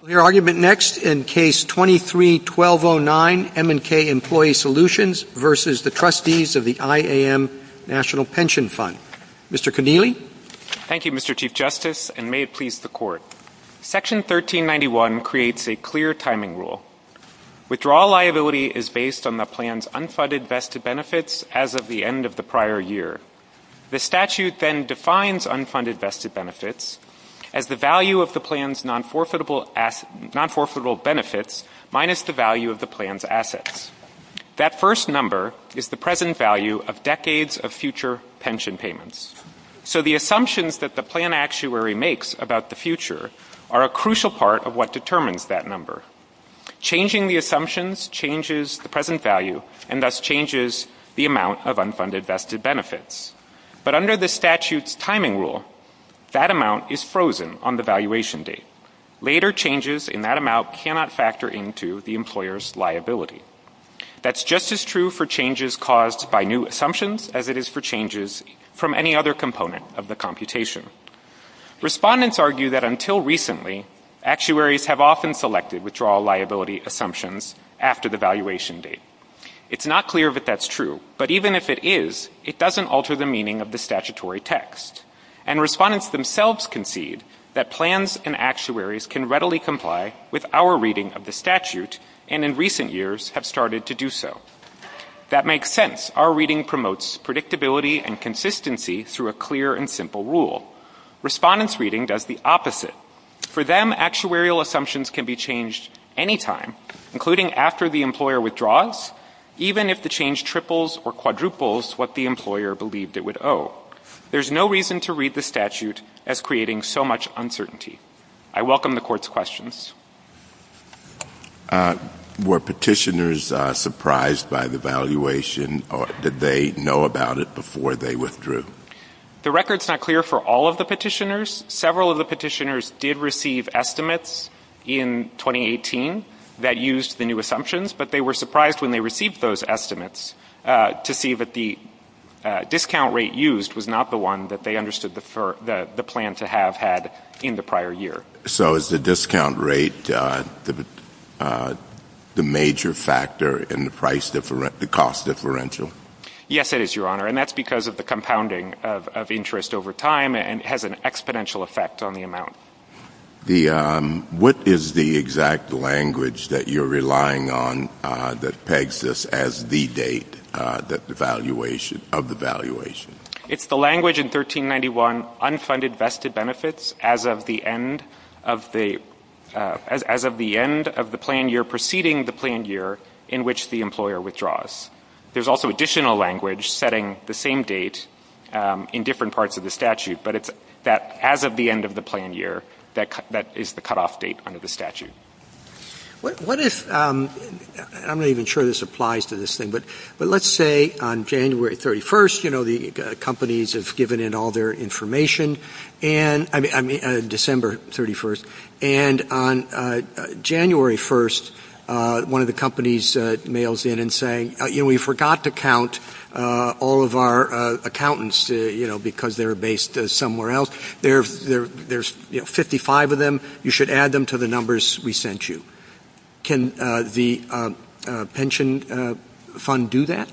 Thank you, Mr. Chief Justice, and may it please the Court. Section 1391 creates a clear timing rule. Withdrawal liability is based on the plan's unfunded vested benefits as of the end of the prior year. The statute then defines unfunded vested benefits as the value of the plan's non-forfeitable benefits minus the value of the plan's assets. That first number is the present value of decades of future pension payments. So the assumptions that the plan actuary makes about the future are a crucial part of what determines that number. Changing the assumptions changes the present value and thus changes the amount of unfunded vested benefits. But under the statute's timing rule, that amount is frozen on the valuation date. Later changes in that amount cannot factor into the employer's liability. That's just as true for changes caused by new assumptions as it is for changes from any other component of the computation. Respondents argue that until recently, actuaries have often selected withdrawal liability assumptions after the valuation date. It's not clear if that's true, but even if it is, it doesn't alter the meaning of the statutory text. And respondents themselves concede that plans and actuaries can readily alter the meaning of the statutory text. I welcome the Court's questions. Were petitioners surprised by the valuation or did they know about it before they withdrew? The record's not clear for all of the petitioners. Several of the petitioners did receive estimates in 2018 that used the new assumptions, but they were surprised when they received those estimates to see that the discount rate used was not the one that they understood the plan to have had in the prior year. So is the discount rate the major factor in the cost differential? Yes, it is, Your Honor. And that's because of the compounding of interest over time, and it has an exponential effect on the amount. What is the exact language that you're relying on that pegs this as the date of the valuation? It's the language in 1391, unfunded vested benefits as of the end of the plan year preceding the plan year in which the employer withdraws. There's also additional language setting the same date in different parts of the statute, but it's that as of the end of the plan year that is the cutoff date under the statute. I'm not even sure this applies to this thing, but let's say on January 31st, you know, the companies have given in all their information, December 31st, and on January 1st, one of the companies mails in and says, you know, we forgot to count all of our accountants because they're based somewhere else. There's 55 of them. You should add them to the numbers we sent you. Can the pension fund do that?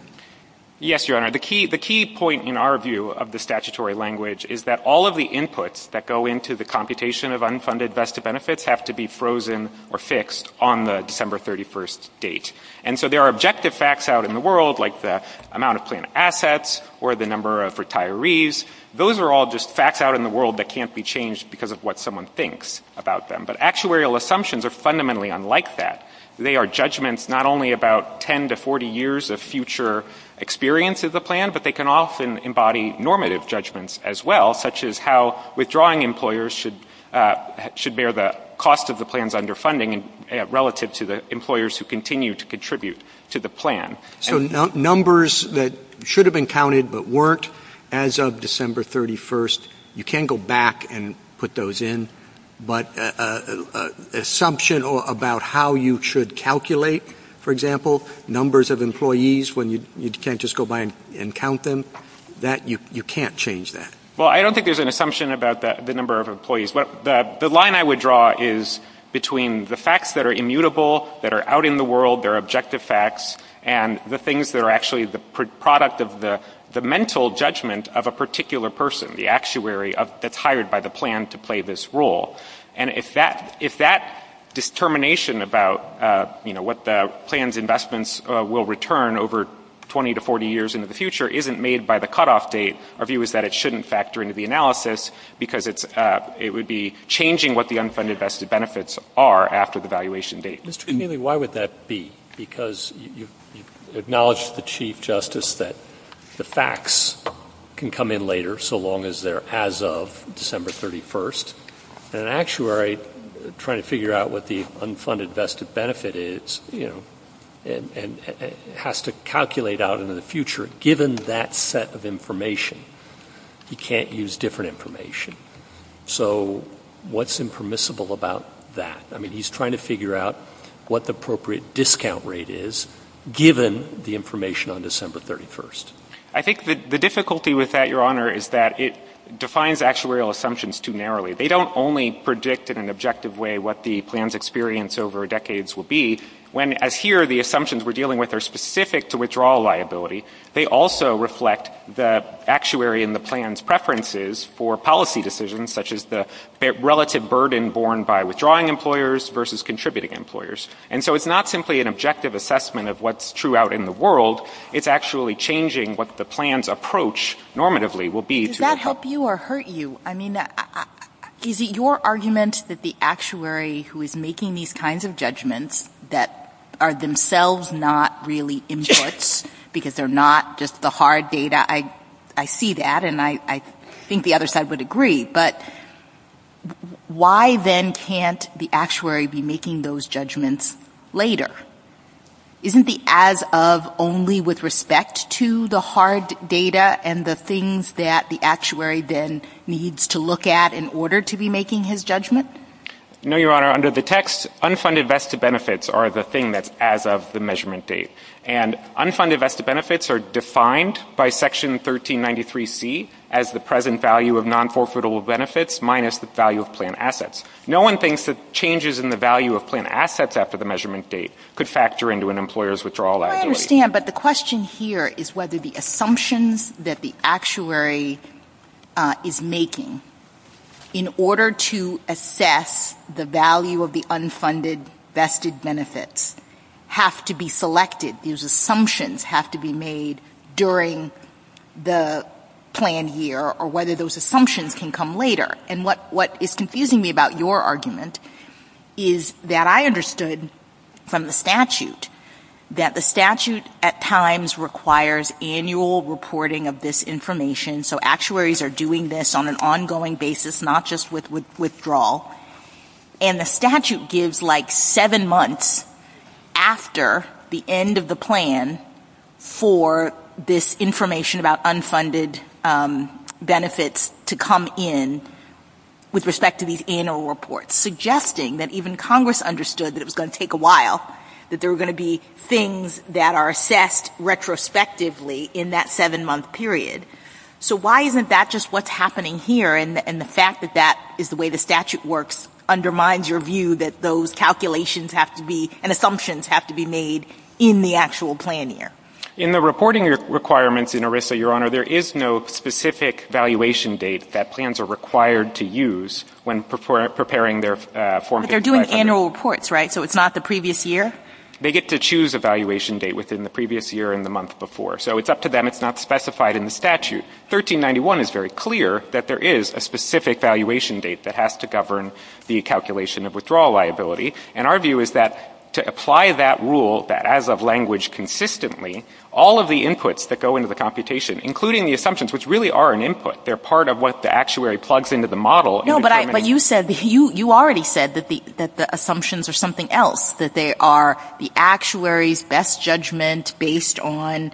Yes, Your Honor. The key point in our view of the statutory language is that all of the inputs that go into the computation of unfunded vested benefits have to be frozen or fixed on the December 31st date. And so there are objective facts out in the world, like the amount of planned assets or the number of retirees. Those are all just facts out in the world that can't be changed because of what someone thinks about them. But actuarial assumptions are fundamentally unlike that. They are judgments not only about 10 to 40 years of future experience of the plan, but they can often embody normative judgments as well, such as how withdrawing employers should bear the cost of the plans under funding relative to the employers who continue to contribute to the plan. So numbers that should have been counted but weren't as of December 31st, you can't go back and put those in. But assumption about how you should calculate, for example, numbers of employees when you can't just go by and count them, you can't change that. Well, I don't think there's an assumption about the number of employees. The line I would draw is between the facts that are immutable, that are out in the world, they're objective facts, and the things that are actually the product of the mental judgment of a particular person, the actuary that's hired by the plan to play this role. And if that determination about what the plan's investments will return over 20 to 40 years into the future isn't made by the cutoff date, our view is that it shouldn't factor into the analysis because it would be changing what the unfunded vested benefits are after the valuation date. Mr. Connealy, why would that be? Because you acknowledged to the Chief Justice that the facts can come in later so long as they're as of December 31st, and an actuary trying to figure out what the unfunded vested benefit is, you know, has to calculate out into the future. Given that set of information, he can't use different information. So what's impermissible about that? I mean, he's trying to figure out what the appropriate discount rate is given the information on December 31st. I think the difficulty with that, Your Honor, is that it defines actuarial assumptions too narrowly. They don't only predict in an objective way what the plan's experience over decades will be. When, as here, the assumptions we're dealing with are specific to withdrawal liability, they also reflect the actuary and the plan's preferences for policy decisions, such as the relative burden borne by withdrawing employers versus contributing employers. And so it's not simply an objective assessment of what's true out in the world. It's actually changing what the plan's approach normatively will be. Does that help you or hurt you? I mean, is it your argument that the actuary who is making these kinds of judgments that are themselves not really inputs, because they're not just the hard data, I see that and I think the other side would agree, but why then can't the actuary be making those judgments later? Isn't the as of only with respect to the hard data and the things that the actuary then needs to look at in order to be making his judgment? No, Your Honor. Under the text, unfunded VESTA benefits are the thing that's as of the measurement date. And unfunded VESTA benefits are defined by Section 1393C as the present value of non-forfeitable benefits minus the value of plan assets. No one thinks that changes in the value of plan assets after the measurement date could factor into an employer's withdrawal act. I understand, but the question here is whether the assumptions that the actuary is making in order to assess the value of the unfunded VESTA benefits have to be selected. These assumptions have to be made during the planned year or whether those assumptions can come later. And what is confusing me about your argument is that I understood from the statute that the statute at times requires annual reporting of this information. So actuaries are doing this on an ongoing basis, not just with withdrawal. And the statute gives like seven months after the end of the plan for this information about unfunded benefits to come in with respect to these annual reports, suggesting that even Congress understood that it was going to take a while, that there were going to be things that are assessed retrospectively in that seven-month period. So why isn't that just what's happening here? And the fact that that is the way the statute works undermines your view that those calculations have to be and assumptions have to be made in the actual planned year. In the reporting requirements in ERISA, Your Honor, there is no specific valuation date that plans are required to use when preparing their form. But they're doing annual reports, right? So it's not the previous year? They get to choose a valuation date within the previous year and the month before. So it's up to them. It's not specified in the statute. 1391 is very clear that there is a specific valuation date that has to govern the calculation of withdrawal liability. And our view is that to apply that rule, that as of language consistently, all of the inputs that go into the computation, including the assumptions, which really are an input, they're part of what the actuary plugs into the model. No, but you said, you already said that the assumptions are something else, that they are the actuary's best judgment based on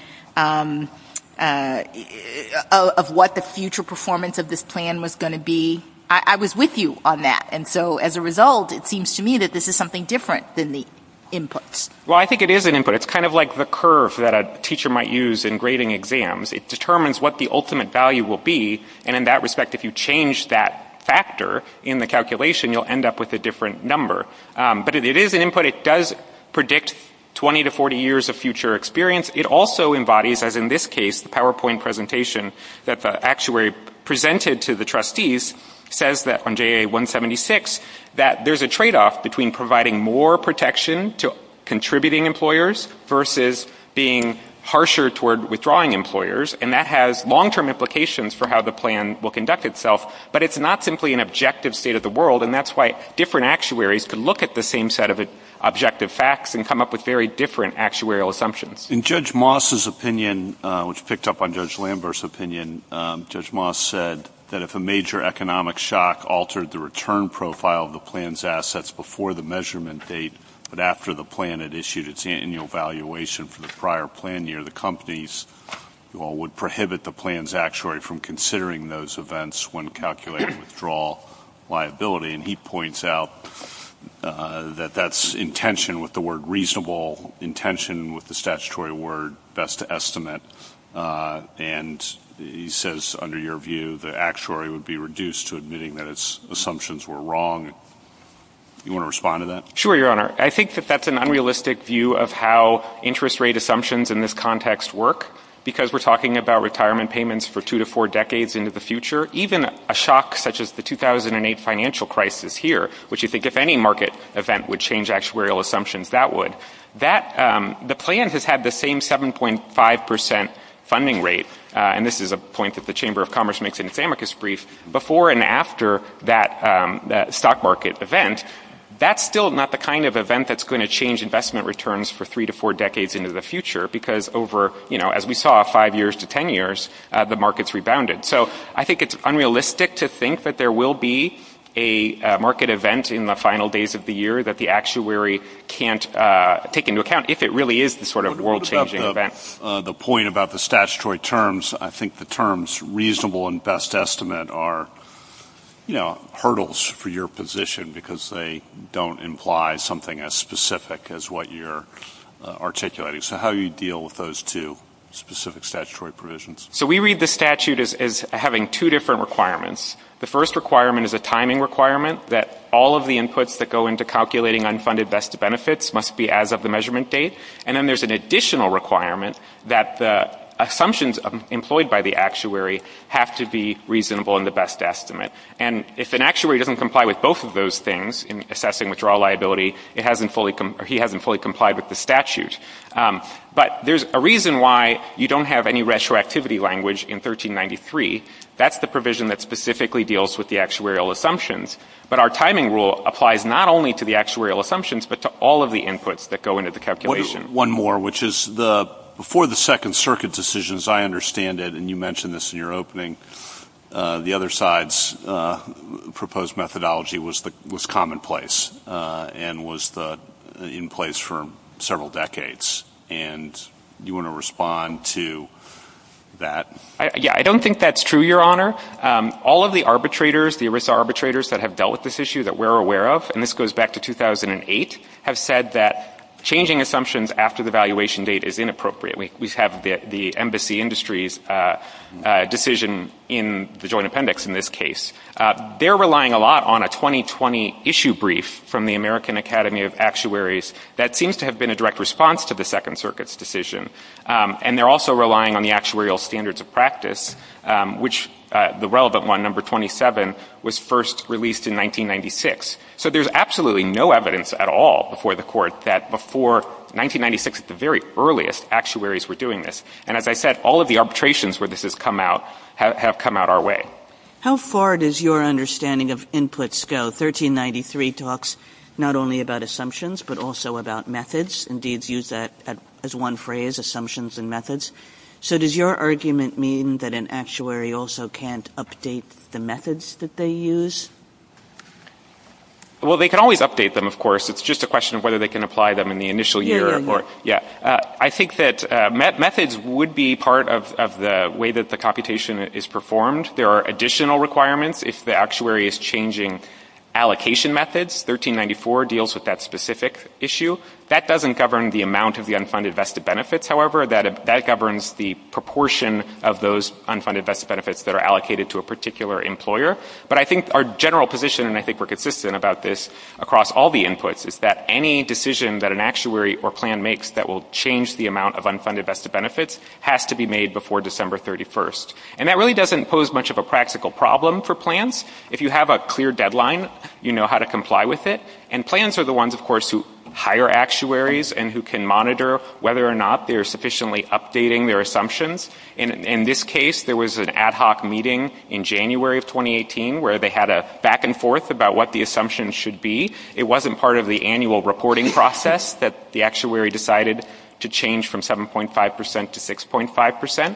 of what the future performance of this plan was going to be. I was with you on that. And so as a result, it seems to me that this is something different than the inputs. Well, I think it is an input. It's kind of like the curve that a teacher might use in grading exams. It determines what the ultimate value will be. And in that respect, if you change that factor in the calculation, you'll end up with a different number. But it is an input. It does predict 20 to 40 years of future experience. It also embodies, as in this case, the PowerPoint presentation that the actuary presented to the trustees, says that on JA-176, that there's a tradeoff between providing more protection to contributing employers versus being harsher toward withdrawing employers. And that has long-term implications for how the plan will conduct itself. But it's not simply an objective state of the world. And that's why different actuaries could look at the same set of objective facts and come up with very different actuarial assumptions. In Judge Moss's opinion, which picked up on Judge Lambert's opinion, Judge Moss said that if a major economic shock altered the return profile of the plan's assets before the measurement date but after the plan had issued its annual valuation for the prior plan year, the companies would prohibit the plan's actuary from considering those events when calculating withdrawal liability. And he points out that that's intention with the word reasonable, intention with the statutory word best estimate. And he says, under your view, the actuary would be reduced to admitting that its assumptions were wrong. Do you want to respond to that? Sure, Your Honor. I think that that's an unrealistic view of how interest rate assumptions in this context work because we're talking about retirement payments for two to four decades into the future. Even a shock such as the 2008 financial crisis here, which you think if any market event would change actuarial assumptions, that would. The plan has had the same 7.5 percent funding rate, and this is a point that the Chamber of Commerce makes in its amicus brief, before and after that stock market event. That's still not the kind of event that's going to change investment returns for three to four decades into the future because over, you know, as we saw, five years to ten years, the markets rebounded. So I think it's unrealistic to think that there will be a market event in the final days of the year that the actuary can't take into account if it really is the sort of world-changing event. What about the point about the statutory terms? I think the terms reasonable and best estimate are, you know, hurdles for your position because they don't imply something as specific as what you're articulating. So how do you deal with those two specific statutory provisions? So we read the statute as having two different requirements. The first requirement is a timing requirement that all of the inputs that go into calculating unfunded best benefits must be as of the measurement date. And then there's an additional requirement that the assumptions employed by the actuary have to be reasonable in the best estimate. And if an actuary doesn't comply with both of those things in assessing withdrawal liability, he hasn't fully complied with the statute. But there's a reason why you don't have any retroactivity language in 1393. That's the provision that specifically deals with the actuarial assumptions. But our timing rule applies not only to the actuarial assumptions but to all of the inputs that go into the calculation. One more, which is before the Second Circuit decision, as I understand it, and you mentioned this in your opening, the other side's proposed methodology was commonplace and was in place for several decades. And do you want to respond to that? Yeah, I don't think that's true, Your Honor. All of the arbitrators, the ERISA arbitrators that have dealt with this issue that we're aware of, and this goes back to 2008, have said that changing assumptions after the valuation date is inappropriate. We have the Embassy Industries decision in the Joint Appendix in this case. They're relying a lot on a 2020 issue brief from the American Academy of Actuaries that seems to have been a direct response to the Second Circuit's decision. And they're also relying on the actuarial standards of practice, which the relevant one, number 27, was first released in 1996. So there's absolutely no evidence at all before the Court that before 1996, at the very earliest, actuaries were doing this. And as I said, all of the arbitrations where this has come out have come out our way. How far does your understanding of inputs go? 1393 talks not only about assumptions but also about methods. Indeed, it's used as one phrase, assumptions and methods. So does your argument mean that an actuary also can't update the methods that they use? Well, they can always update them, of course. It's just a question of whether they can apply them in the initial year. I think that methods would be part of the way that the computation is performed. There are additional requirements if the actuary is changing allocation methods. 1394 deals with that specific issue. That doesn't govern the amount of the unfunded vested benefits, however. That governs the proportion of those unfunded vested benefits that are allocated to a particular employer. But I think our general position, and I think we're consistent about this across all the inputs, is that any decision that an actuary or plan makes that will change the amount of unfunded vested benefits has to be made before December 31st. And that really doesn't pose much of a practical problem for plans. If you have a clear deadline, you know how to comply with it. And plans are the ones, of course, who hire actuaries and who can monitor whether or not they are sufficiently updating their assumptions. In this case, there was an ad hoc meeting in January of 2018 where they had a back and forth about what the assumptions should be. It wasn't part of the annual reporting process that the actuary decided to change from 7.5% to 6.5%.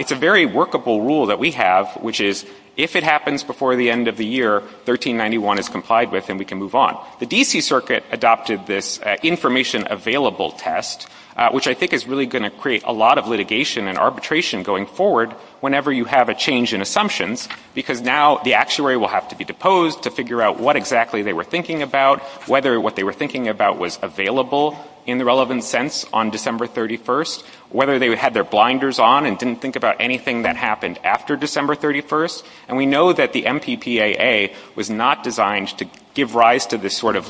It's a very workable rule that we have, which is, if it happens before the end of the year, 1391 is complied with and we can move on. The D.C. Circuit adopted this information available test, which I think is really going to create a lot of litigation and arbitration going forward whenever you have a change in assumptions, because now the actuary will have to be deposed to figure out what exactly they were thinking about, whether what they were thinking about was available in the relevant sense on December 31st, whether they had their blinders on and didn't think about anything that happened after December 31st. And we know that the MPPAA was not designed to give rise to this sort of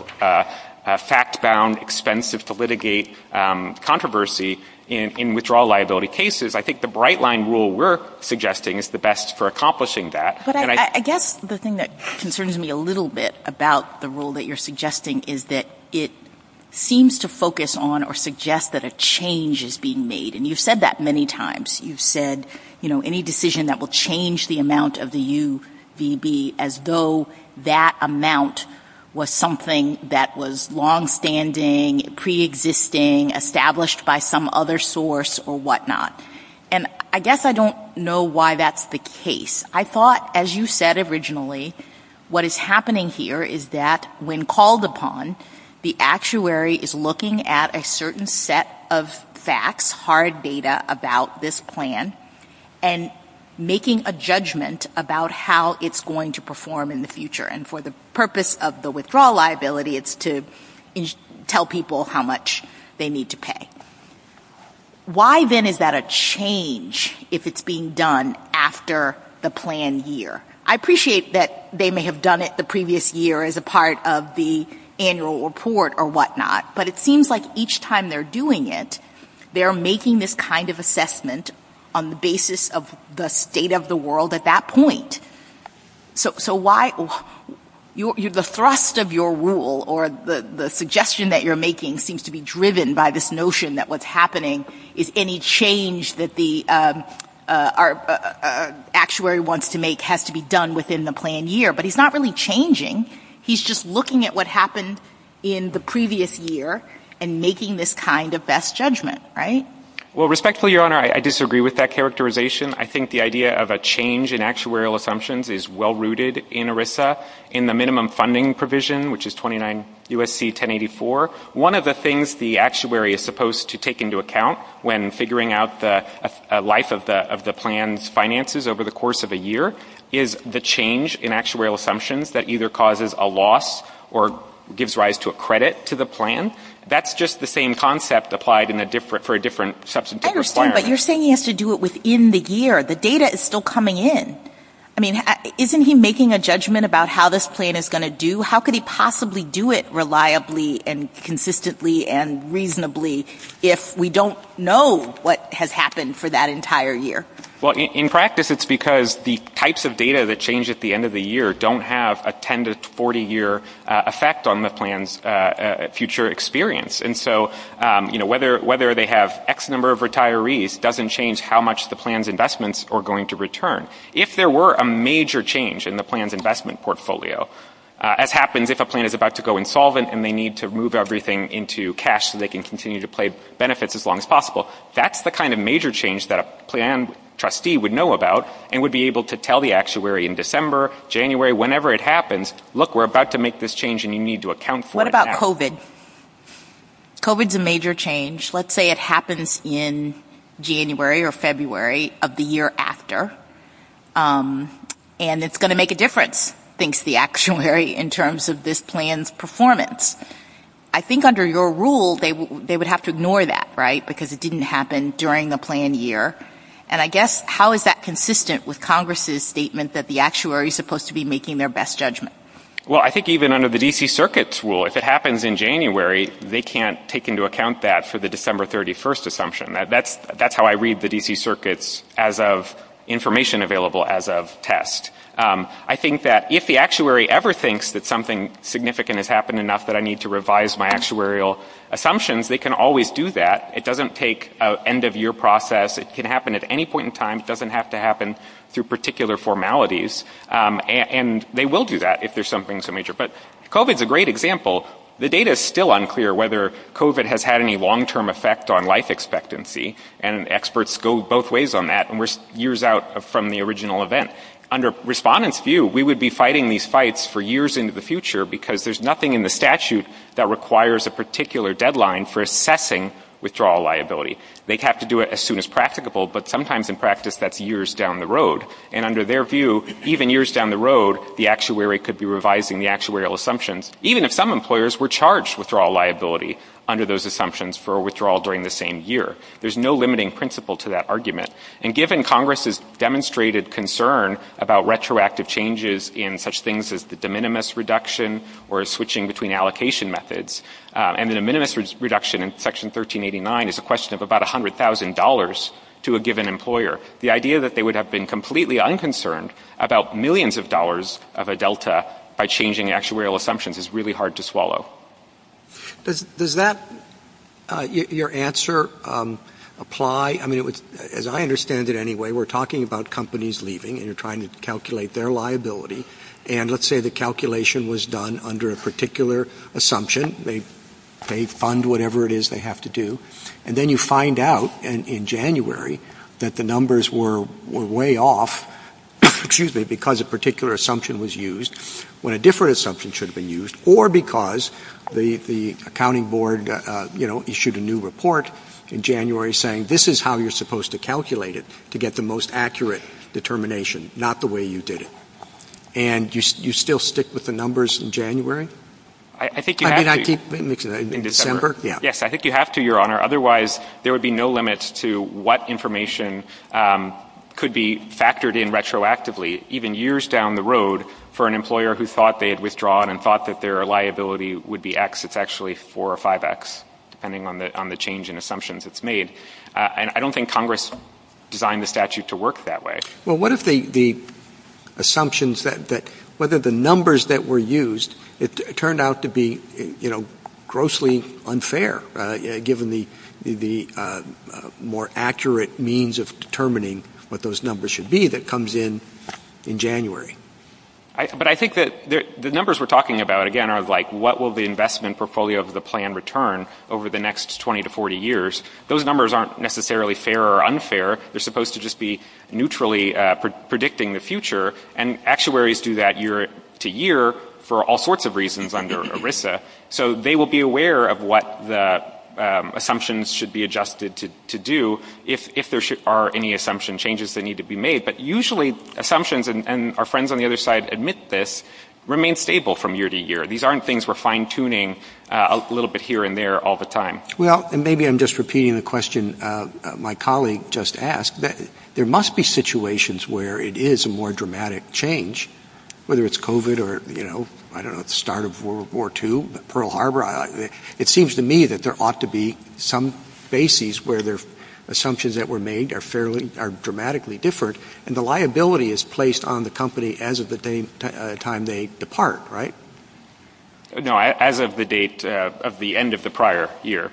fact-bound, expensive-to-litigate controversy in withdrawal liability cases. I think the bright-line rule we're suggesting is the best for accomplishing that. But I guess the thing that concerns me a little bit about the rule that you're suggesting is that it seems to focus on or suggest that a change is being made. And you've said that many times. You've said, you know, any decision that will change the amount of the UVB, as though that amount was something that was longstanding, preexisting, established by some other source or whatnot. And I guess I don't know why that's the case. I thought, as you said originally, what is happening here is that when called upon, the actuary is looking at a certain set of facts, hard data about this plan, and making a judgment about how it's going to perform in the future. And for the purpose of the withdrawal liability, it's to tell people how much they need to pay. Why, then, is that a change if it's being done after the planned year? I appreciate that they may have done it the previous year as a part of the annual report or whatnot. But it seems like each time they're doing it, they're making this kind of assessment on the basis of the state of the world at that point. So why the thrust of your rule or the suggestion that you're making seems to be driven by this notion that what's happening is any change that the actuary wants to make has to be done within the planned year. But he's not really changing. He's just looking at what happened in the previous year and making this kind of best judgment, right? Well, respectfully, Your Honor, I disagree with that characterization. I think the idea of a change in actuarial assumptions is well-rooted in ERISA. In the minimum funding provision, which is 29 U.S.C. 1084, one of the things the actuary is supposed to take into account when figuring out the life of the plan's finances over the course of a year is the change in actuarial assumptions that either causes a loss or gives rise to a credit to the plan. That's just the same concept applied for a different substantive requirement. But you're saying he has to do it within the year. The data is still coming in. I mean, isn't he making a judgment about how this plan is going to do? How could he possibly do it reliably and consistently and reasonably if we don't know what has happened for that entire year? Well, in practice, it's because the types of data that change at the end of the year don't have a 10- to 40-year effect on the plan's future experience. And so, you know, whether they have X number of retirees doesn't change how much the plan's investments are going to return. If there were a major change in the plan's investment portfolio, as happens if a plan is about to go insolvent and they need to move everything into cash so they can continue to pay benefits as long as possible, that's the kind of major change that a plan trustee would know about and would be able to tell the actuary in December, January, whenever it happens, look, we're about to make this change and you need to account for it. COVID. COVID's a major change. Let's say it happens in January or February of the year after, and it's going to make a difference, thinks the actuary, in terms of this plan's performance. I think under your rule they would have to ignore that, right, because it didn't happen during the planned year. And I guess how is that consistent with Congress's statement that the actuary is supposed to be making their best judgment? Well, I think even under the D.C. Circuit's rule, if it happens in January, they can't take into account that for the December 31st assumption. That's how I read the D.C. Circuit's information available as of test. I think that if the actuary ever thinks that something significant has happened enough that I need to revise my actuarial assumptions, they can always do that. It doesn't take an end-of-year process. It can happen at any point in time. It doesn't have to happen through particular formalities. And they will do that if there's something so major. But COVID's a great example. The data is still unclear whether COVID has had any long-term effect on life expectancy, and experts go both ways on that, and we're years out from the original event. Under respondents' view, we would be fighting these fights for years into the future because there's nothing in the statute that requires a particular deadline for assessing withdrawal liability. They'd have to do it as soon as practicable, but sometimes in practice that's years down the road. And under their view, even years down the road, the actuary could be revising the actuarial assumptions, even if some employers were charged withdrawal liability under those assumptions for withdrawal during the same year. There's no limiting principle to that argument. And given Congress's demonstrated concern about retroactive changes in such things as the de minimis reduction or switching between allocation methods, and the de minimis reduction in Section 1389 is a question of about $100,000 to a given employer, the idea that they would have been completely unconcerned about millions of dollars of a delta by changing actuarial assumptions is really hard to swallow. Does that, your answer, apply? I mean, as I understand it anyway, we're talking about companies leaving and you're trying to calculate their liability, and let's say the calculation was done under a particular assumption, they fund whatever it is they have to do, and then you find out in January that the numbers were way off, excuse me, because a particular assumption was used when a different assumption should have been used, or because the accounting board issued a new report in January saying, this is how you're supposed to calculate it to get the most accurate determination, not the way you did it. And you still stick with the numbers in January? I think you have to. In December? Yes. I think you have to, Your Honor, otherwise there would be no limits to what information could be factored in retroactively, even years down the road, for an employer who thought they had withdrawn and thought that their liability would be X. It's actually 4 or 5X, depending on the change in assumptions it's made. And I don't think Congress designed the statute to work that way. Well, what if the assumptions that whether the numbers that were used, it turned out to be, you know, grossly unfair, given the more accurate means of determining what those numbers should be that comes in in January? But I think that the numbers we're talking about, again, are like what will the investment portfolio of the plan return over the next 20 to 40 years. Those numbers aren't necessarily fair or unfair. They're supposed to just be neutrally predicting the future, and actuaries do that year to year for all sorts of reasons under ERISA. So they will be aware of what the assumptions should be adjusted to do if there are any assumption changes that need to be made. But usually assumptions, and our friends on the other side admit this, remain stable from year to year. These aren't things we're fine-tuning a little bit here and there all the time. Well, and maybe I'm just repeating the question my colleague just asked. There must be situations where it is a more dramatic change, whether it's COVID or, you know, I don't know, the start of World War II, Pearl Harbor. It seems to me that there ought to be some basis where the assumptions that were made are dramatically different, and the liability is placed on the company as of the time they depart, right? No, as of the date of the end of the prior year.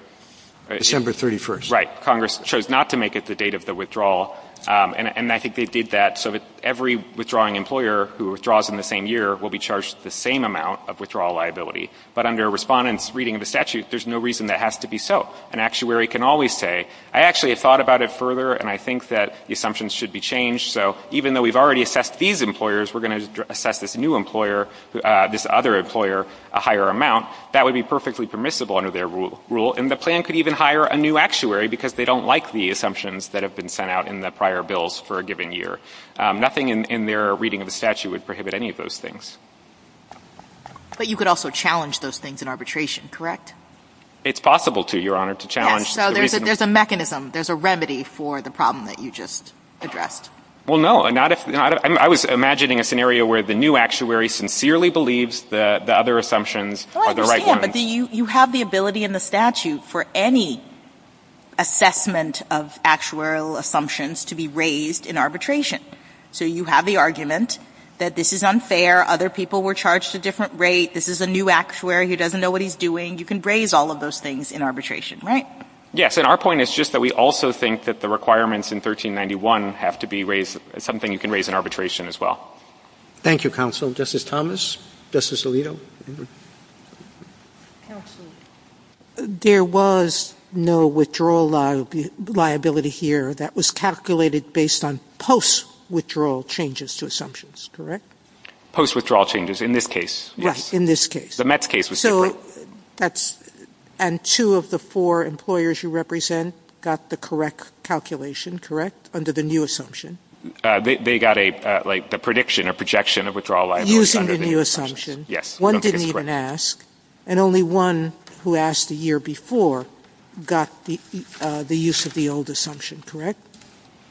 December 31st. Right. Congress chose not to make it the date of the withdrawal, and I think they did that so that every withdrawing employer who withdraws in the same year will be charged the same amount of withdrawal liability. But under a respondent's reading of the statute, there's no reason that has to be so. An actuary can always say, I actually have thought about it further, and I think that the assumptions should be changed, so even though we've already assessed these employers, we're going to assess this new employer, this other employer, a higher amount. That would be perfectly permissible under their rule, and the plan could even hire a new actuary because they don't like the assumptions that have been sent out in the prior bills for a given year. Nothing in their reading of the statute would prohibit any of those things. But you could also challenge those things in arbitration, correct? It's possible to, Your Honor, to challenge. Yes, so there's a mechanism, there's a remedy for the problem that you just addressed. Well, no. I was imagining a scenario where the new actuary sincerely believes the other assumptions are the right ones. But you have the ability in the statute for any assessment of actuarial assumptions to be raised in arbitration. So you have the argument that this is unfair, other people were charged a different rate, this is a new actuary who doesn't know what he's doing. You can raise all of those things in arbitration, right? Yes. And our point is just that we also think that the requirements in 1391 have to be raised as something you can raise in arbitration as well. Thank you, counsel. Justice Thomas. Justice Alito. Counsel, there was no withdrawal liability here that was calculated based on post-withdrawal changes to assumptions, correct? Post-withdrawal changes, in this case, yes. Right, in this case. The Mets case was different. So that's, and two of the four employers you represent got the correct calculation, correct, under the new assumption? They got a, like, the prediction or projection of withdrawal liability. Using the new assumption. Yes. One didn't even ask. And only one who asked the year before got the use of the old assumption, correct?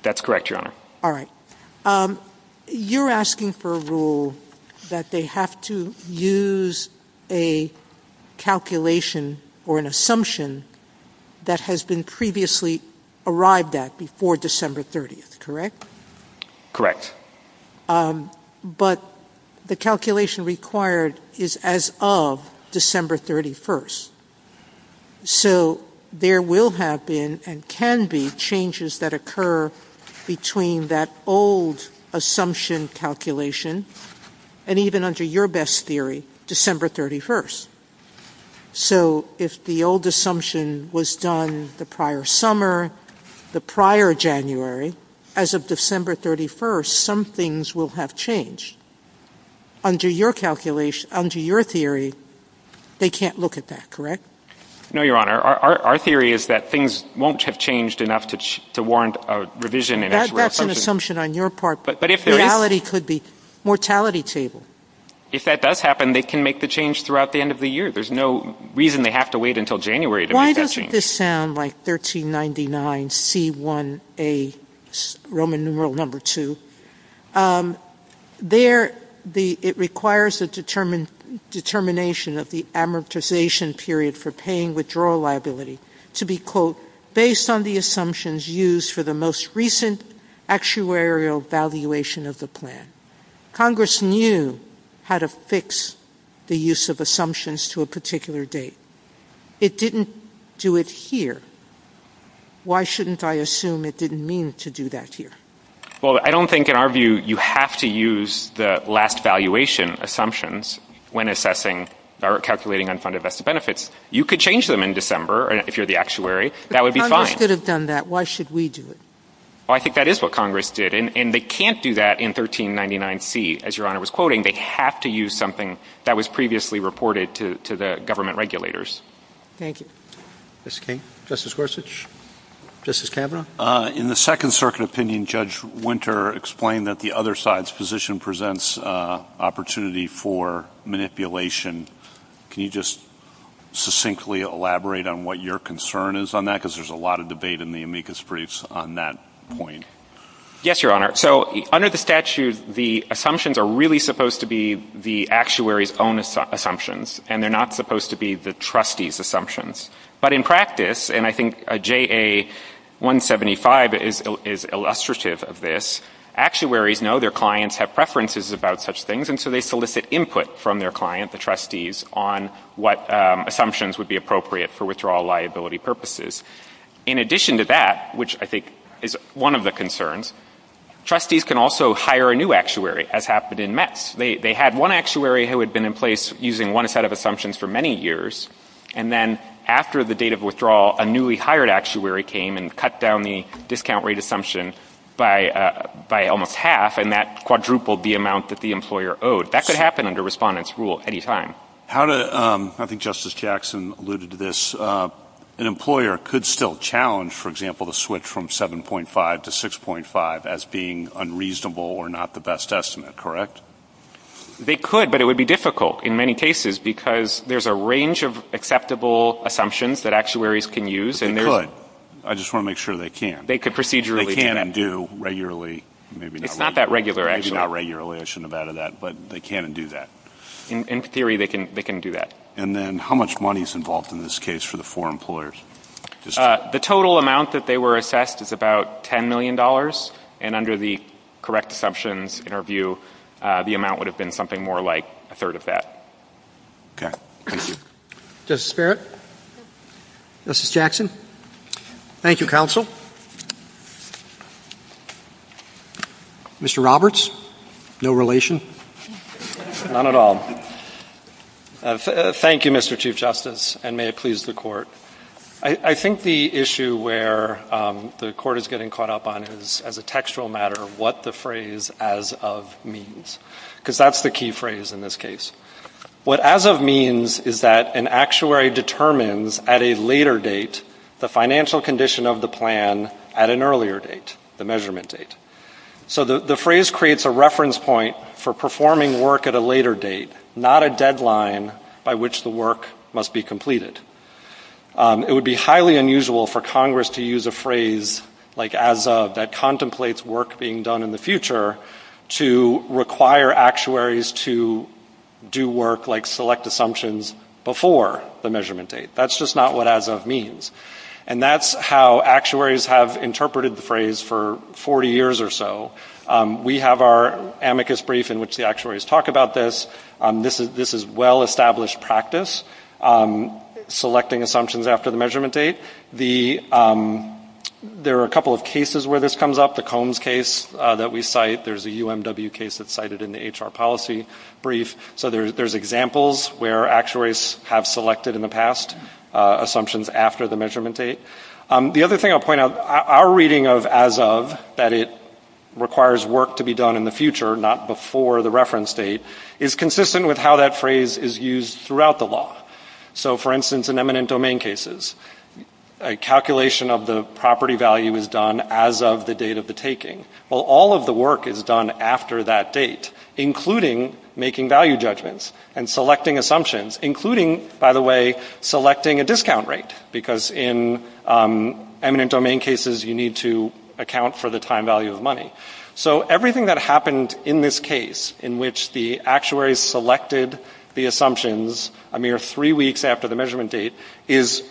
That's correct, Your Honor. All right. You're asking for a rule that they have to use a calculation or an assumption that has been previously arrived at before December 30th, correct? Correct. But the calculation required is as of December 31st. So there will have been and can be changes that occur between that old assumption calculation and even under your best theory, December 31st. So if the old assumption was done the prior summer, the prior January, as of December 31st, some things will have changed. Under your calculation, under your theory, they can't look at that, correct? No, Your Honor. Our theory is that things won't have changed enough to warrant a revision in actual assumption. That's an assumption on your part. But if there is. Reality could be mortality table. If that does happen, they can make the change throughout the end of the year. There's no reason they have to wait until January to make that change. I made this sound like 1399C1A, Roman numeral number 2. There, it requires a determination of the amortization period for paying withdrawal liability to be, quote, based on the assumptions used for the most recent actuarial valuation of the plan. Congress knew how to fix the use of assumptions to a particular date. It didn't do it here. Why shouldn't I assume it didn't mean to do that here? Well, I don't think, in our view, you have to use the last valuation assumptions when assessing or calculating unfunded vested benefits. You could change them in December if you're the actuary. That would be fine. But Congress could have done that. Why should we do it? Well, I think that is what Congress did. And they can't do that in 1399C. As Your Honor was quoting, they have to use something that was previously reported to the government regulators. Thank you. Mr. King. Justice Gorsuch. Justice Kavanaugh. In the Second Circuit opinion, Judge Winter explained that the other side's position presents opportunity for manipulation. Can you just succinctly elaborate on what your concern is on that? Because there's a lot of debate in the amicus briefs on that point. Yes, Your Honor. So under the statute, the assumptions are really supposed to be the client's assumptions, and they're not supposed to be the trustees' But in practice, and I think JA-175 is illustrative of this, actuaries know their clients have preferences about such things, and so they solicit input from their client, the trustees, on what assumptions would be appropriate for withdrawal liability purposes. In addition to that, which I think is one of the concerns, trustees can also hire a new actuary, as happened in Metz. They had one actuary who had been in place using one set of assumptions for many years, and then after the date of withdrawal, a newly hired actuary came and cut down the discount rate assumption by almost half, and that quadrupled the amount that the employer owed. That could happen under Respondent's rule any time. I think Justice Jackson alluded to this. An employer could still challenge, for example, the switch from 7.5 to 6.5 as being unreasonable or not the best estimate, correct? They could, but it would be difficult in many cases because there's a range of acceptable assumptions that actuaries can use. But they could. I just want to make sure they can. They could procedurally do that. They can and do regularly, maybe not regularly. It's not that regular, actually. Maybe not regularly. I shouldn't have added that. But they can and do that. In theory, they can do that. And then how much money is involved in this case for the four employers? The total amount that they were assessed is about $10 million, and under the correct assumptions, in our view, the amount would have been something more like a third of that. Thank you. Justice Barrett? Justice Jackson? Thank you, Counsel. Mr. Roberts? No relation? Not at all. Thank you, Mr. Chief Justice, and may it please the Court. I think the issue where the Court is getting caught up on is, as a textual matter, what the phrase, as of, means. Because that's the key phrase in this case. What as of means is that an actuary determines at a later date the financial condition of the plan at an earlier date, the measurement date. So the phrase creates a reference point for performing work at a later date, not a deadline by which the work must be completed. It would be highly unusual for Congress to use a phrase like as of that contemplates work being done in the future to require actuaries to do work like select assumptions before the measurement date. That's just not what as of means. And that's how actuaries have interpreted the phrase for 40 years or so. We have our amicus brief in which the actuaries talk about this. This is well-established practice, selecting assumptions after the measurement date. There are a couple of cases where this comes up. The Combs case that we cite, there's a UMW case that's cited in the HR policy brief. So there's examples where actuaries have selected in the past assumptions after the measurement date. The other thing I'll point out, our reading of as of, that it requires work to be done in the future, not before the reference date, is consistent with how that phrase is used throughout the law. So, for instance, in eminent domain cases, a calculation of the property value is done as of the date of the taking. Well, all of the work is done after that date, including making value judgments and selecting assumptions, including, by the way, selecting a discount rate, because in eminent domain cases, you need to account for the time value of money. So everything that happened in this case, in which the actuaries selected the assumptions a mere three weeks after the measurement date, is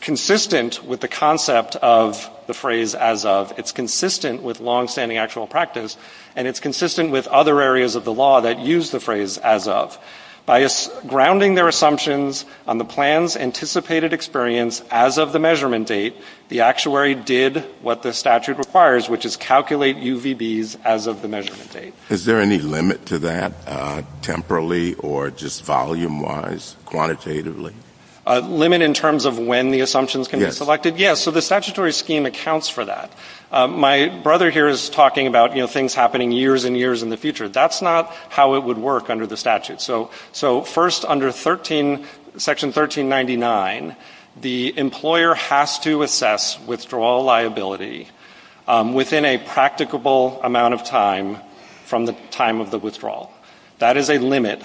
consistent with the concept of the phrase as of. It's consistent with longstanding actual practice, and it's consistent with other areas of the law that use the phrase as of. By grounding their assumptions on the plan's anticipated experience as of the measurement date, the actuary did what the statute requires, which is calculate UVBs as of the measurement date. Is there any limit to that, temporally or just volume-wise, quantitatively? A limit in terms of when the assumptions can be selected? Yes. So the statutory scheme accounts for that. My brother here is talking about, you know, things happening years and years in the future. That's not how it would work under the statute. So first, under Section 1399, the employer has to assess withdrawal liability within a practicable amount of time from the time of the withdrawal. That is a limit.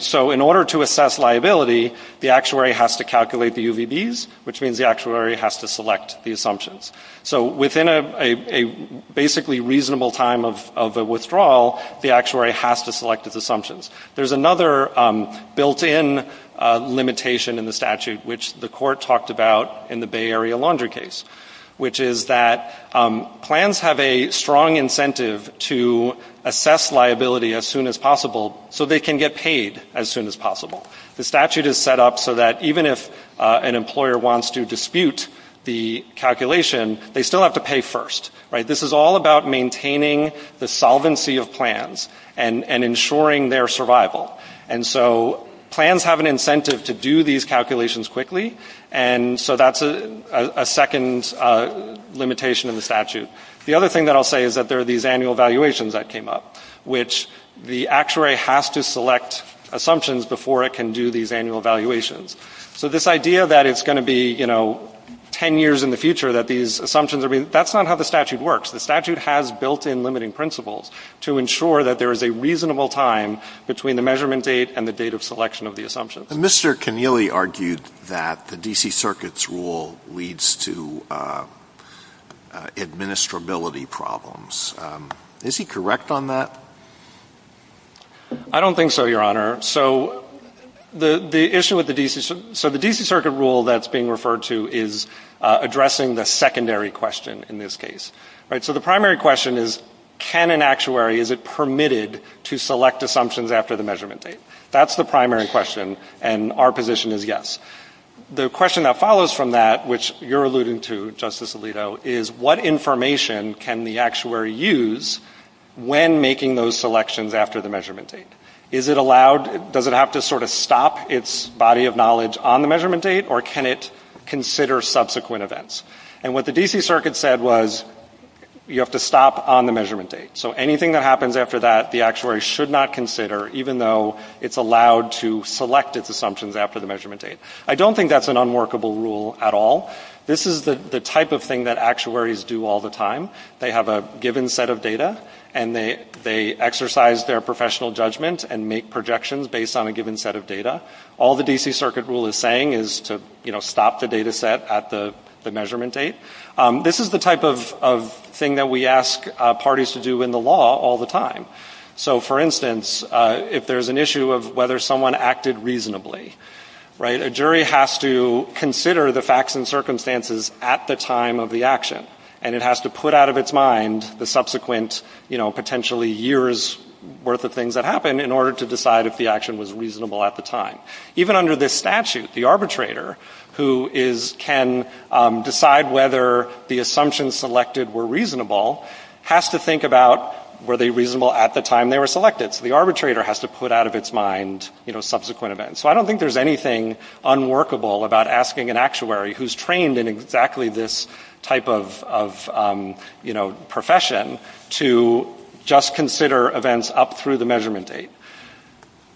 So in order to assess liability, the actuary has to calculate the UVBs, which means the actuary has to select the assumptions. So within a basically reasonable time of withdrawal, the actuary has to select its There's another built-in limitation in the statute, which the court talked about in the Bay Area laundry case, which is that plans have a strong incentive to assess liability as soon as possible so they can get paid as soon as possible. The statute is set up so that even if an employer wants to dispute the calculation, they still have to pay first, right? This is all about maintaining the solvency of plans and ensuring their survival. And so plans have an incentive to do these calculations quickly, and so that's a second limitation in the statute. The other thing that I'll say is that there are these annual valuations that came up, which the actuary has to select assumptions before it can do these annual valuations. So this idea that it's going to be, you know, ten years in the future that these assumptions are being – that's not how the statute works. The statute has built-in limiting principles to ensure that there is a reasonable time between the measurement date and the date of selection of the assumptions. And Mr. Connealy argued that the D.C. Circuit's rule leads to administrability problems. Is he correct on that? I don't think so, Your Honor. So the issue with the D.C. – so the D.C. Circuit rule that's being referred to is addressing the secondary question in this case, right? So the primary question is, can an actuary – is it permitted to select assumptions after the measurement date? That's the primary question, and our position is yes. The question that follows from that, which you're alluding to, Justice Alito, is what information can the actuary use when making those selections after the measurement date? Is it allowed – does it have to sort of stop its body of knowledge on the measurement date, or can it consider subsequent events? And what the D.C. Circuit said was, you have to stop on the measurement date. So anything that happens after that, the actuary should not consider, even though it's allowed to select its assumptions after the measurement date. I don't think that's an unworkable rule at all. This is the type of thing that actuaries do all the time. They have a given set of data, and they exercise their professional judgment and make projections based on a given set of data. All the D.C. Circuit rule is saying is to, you know, stop the data set at the measurement date. This is the type of thing that we ask parties to do in the law all the time. So, for instance, if there's an issue of whether someone acted reasonably, right? A jury has to consider the facts and circumstances at the time of the action. And it has to put out of its mind the subsequent, you know, potentially years' worth of things that happened in order to decide if the action was reasonable at the time. Even under this statute, the arbitrator, who is – can decide whether the assumptions selected were reasonable, has to think about were they reasonable at the time they were selected. So the arbitrator has to put out of its mind, you know, subsequent events. So I don't think there's anything unworkable about asking an actuary who's trained in exactly this type of, you know, profession to just consider events up through the measurement date.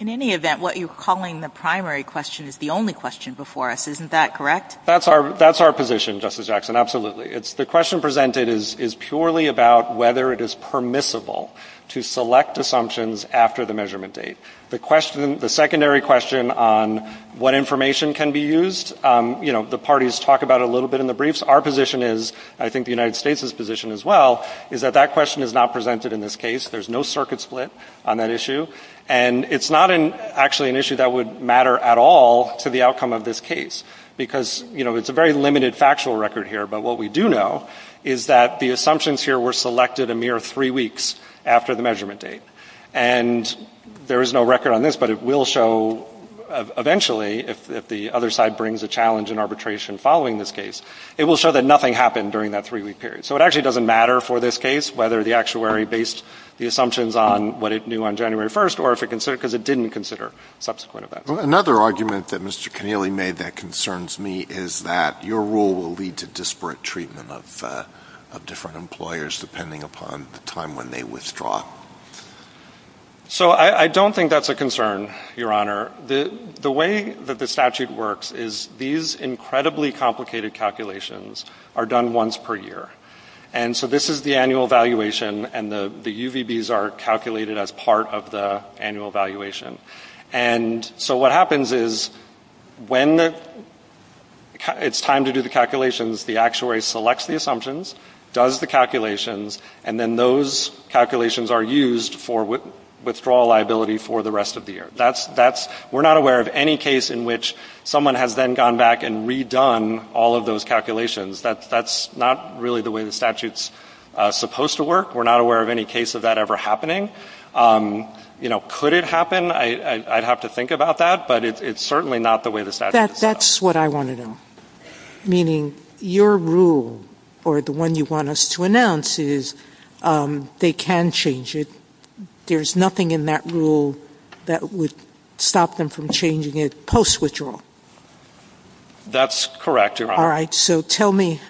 In any event, what you're calling the primary question is the only question before us. Isn't that correct? That's our position, Justice Jackson. Absolutely. The question presented is purely about whether it is permissible to select assumptions after the measurement date. The question – the secondary question on what information can be used, you know, the parties talk about it a little bit in the briefs. Our position is, I think the United States' position as well, is that that question is not presented in this case. There's no circuit split on that issue. And it's not actually an issue that would matter at all to the outcome of this case because, you know, it's a very limited factual record here. But what we do know is that the assumptions here were selected a mere three weeks after the measurement date. And there is no record on this, but it will show eventually, if the other side brings a challenge in arbitration following this case, it will show that nothing happened during that three-week period. So it actually doesn't matter for this case whether the actuary based the assumptions on what it knew on January 1st or if it considered – because it didn't consider subsequent events. Another argument that Mr. Connealy made that concerns me is that your rule will lead to disparate treatment of different employers depending upon the time when they withdraw. So I don't think that's a concern, Your Honor. The way that the statute works is these incredibly complicated calculations are done once per year. And so this is the annual valuation and the UVBs are calculated as part of the annual valuation. And so what happens is when it's time to do the calculations, the actuary selects the assumptions, does the calculations, and then those calculations are used for withdrawal liability for the rest of the year. That's – we're not aware of any case in which someone has then gone back and redone all of those calculations. That's not really the way the statute's supposed to work. We're not aware of any case of that ever happening. You know, could it happen? I'd have to think about that, but it's certainly not the way the statute That's what I want to know, meaning your rule or the one you want us to announce is they can change it. There's nothing in that rule that would stop them from changing it post-withdrawal. That's correct, Your Honor. All right. So tell me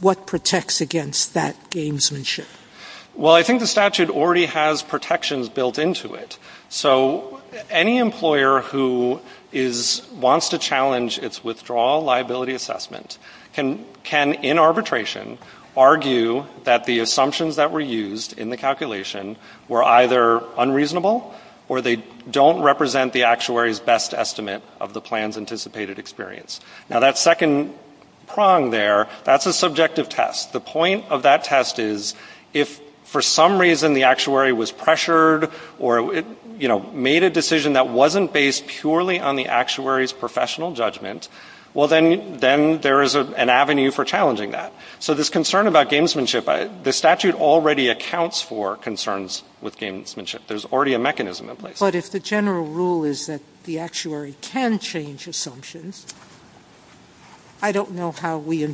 what protects against that gamesmanship. Well, I think the statute already has protections built into it. So any employer who wants to challenge its withdrawal liability assessment can, in arbitration, argue that the assumptions that were used in the calculation were either unreasonable or they don't represent the actuary's best estimate of the plan's anticipated experience. Now, that second prong there, that's a subjective test. The point of that test is if for some reason the actuary was pressured or, you know, made a decision that wasn't based purely on the actuary's professional judgment, well, then there is an avenue for challenging that. So this concern about gamesmanship, the statute already accounts for concerns with gamesmanship. There's already a mechanism in place. But if the general rule is that the actuary can change assumptions, I don't know how we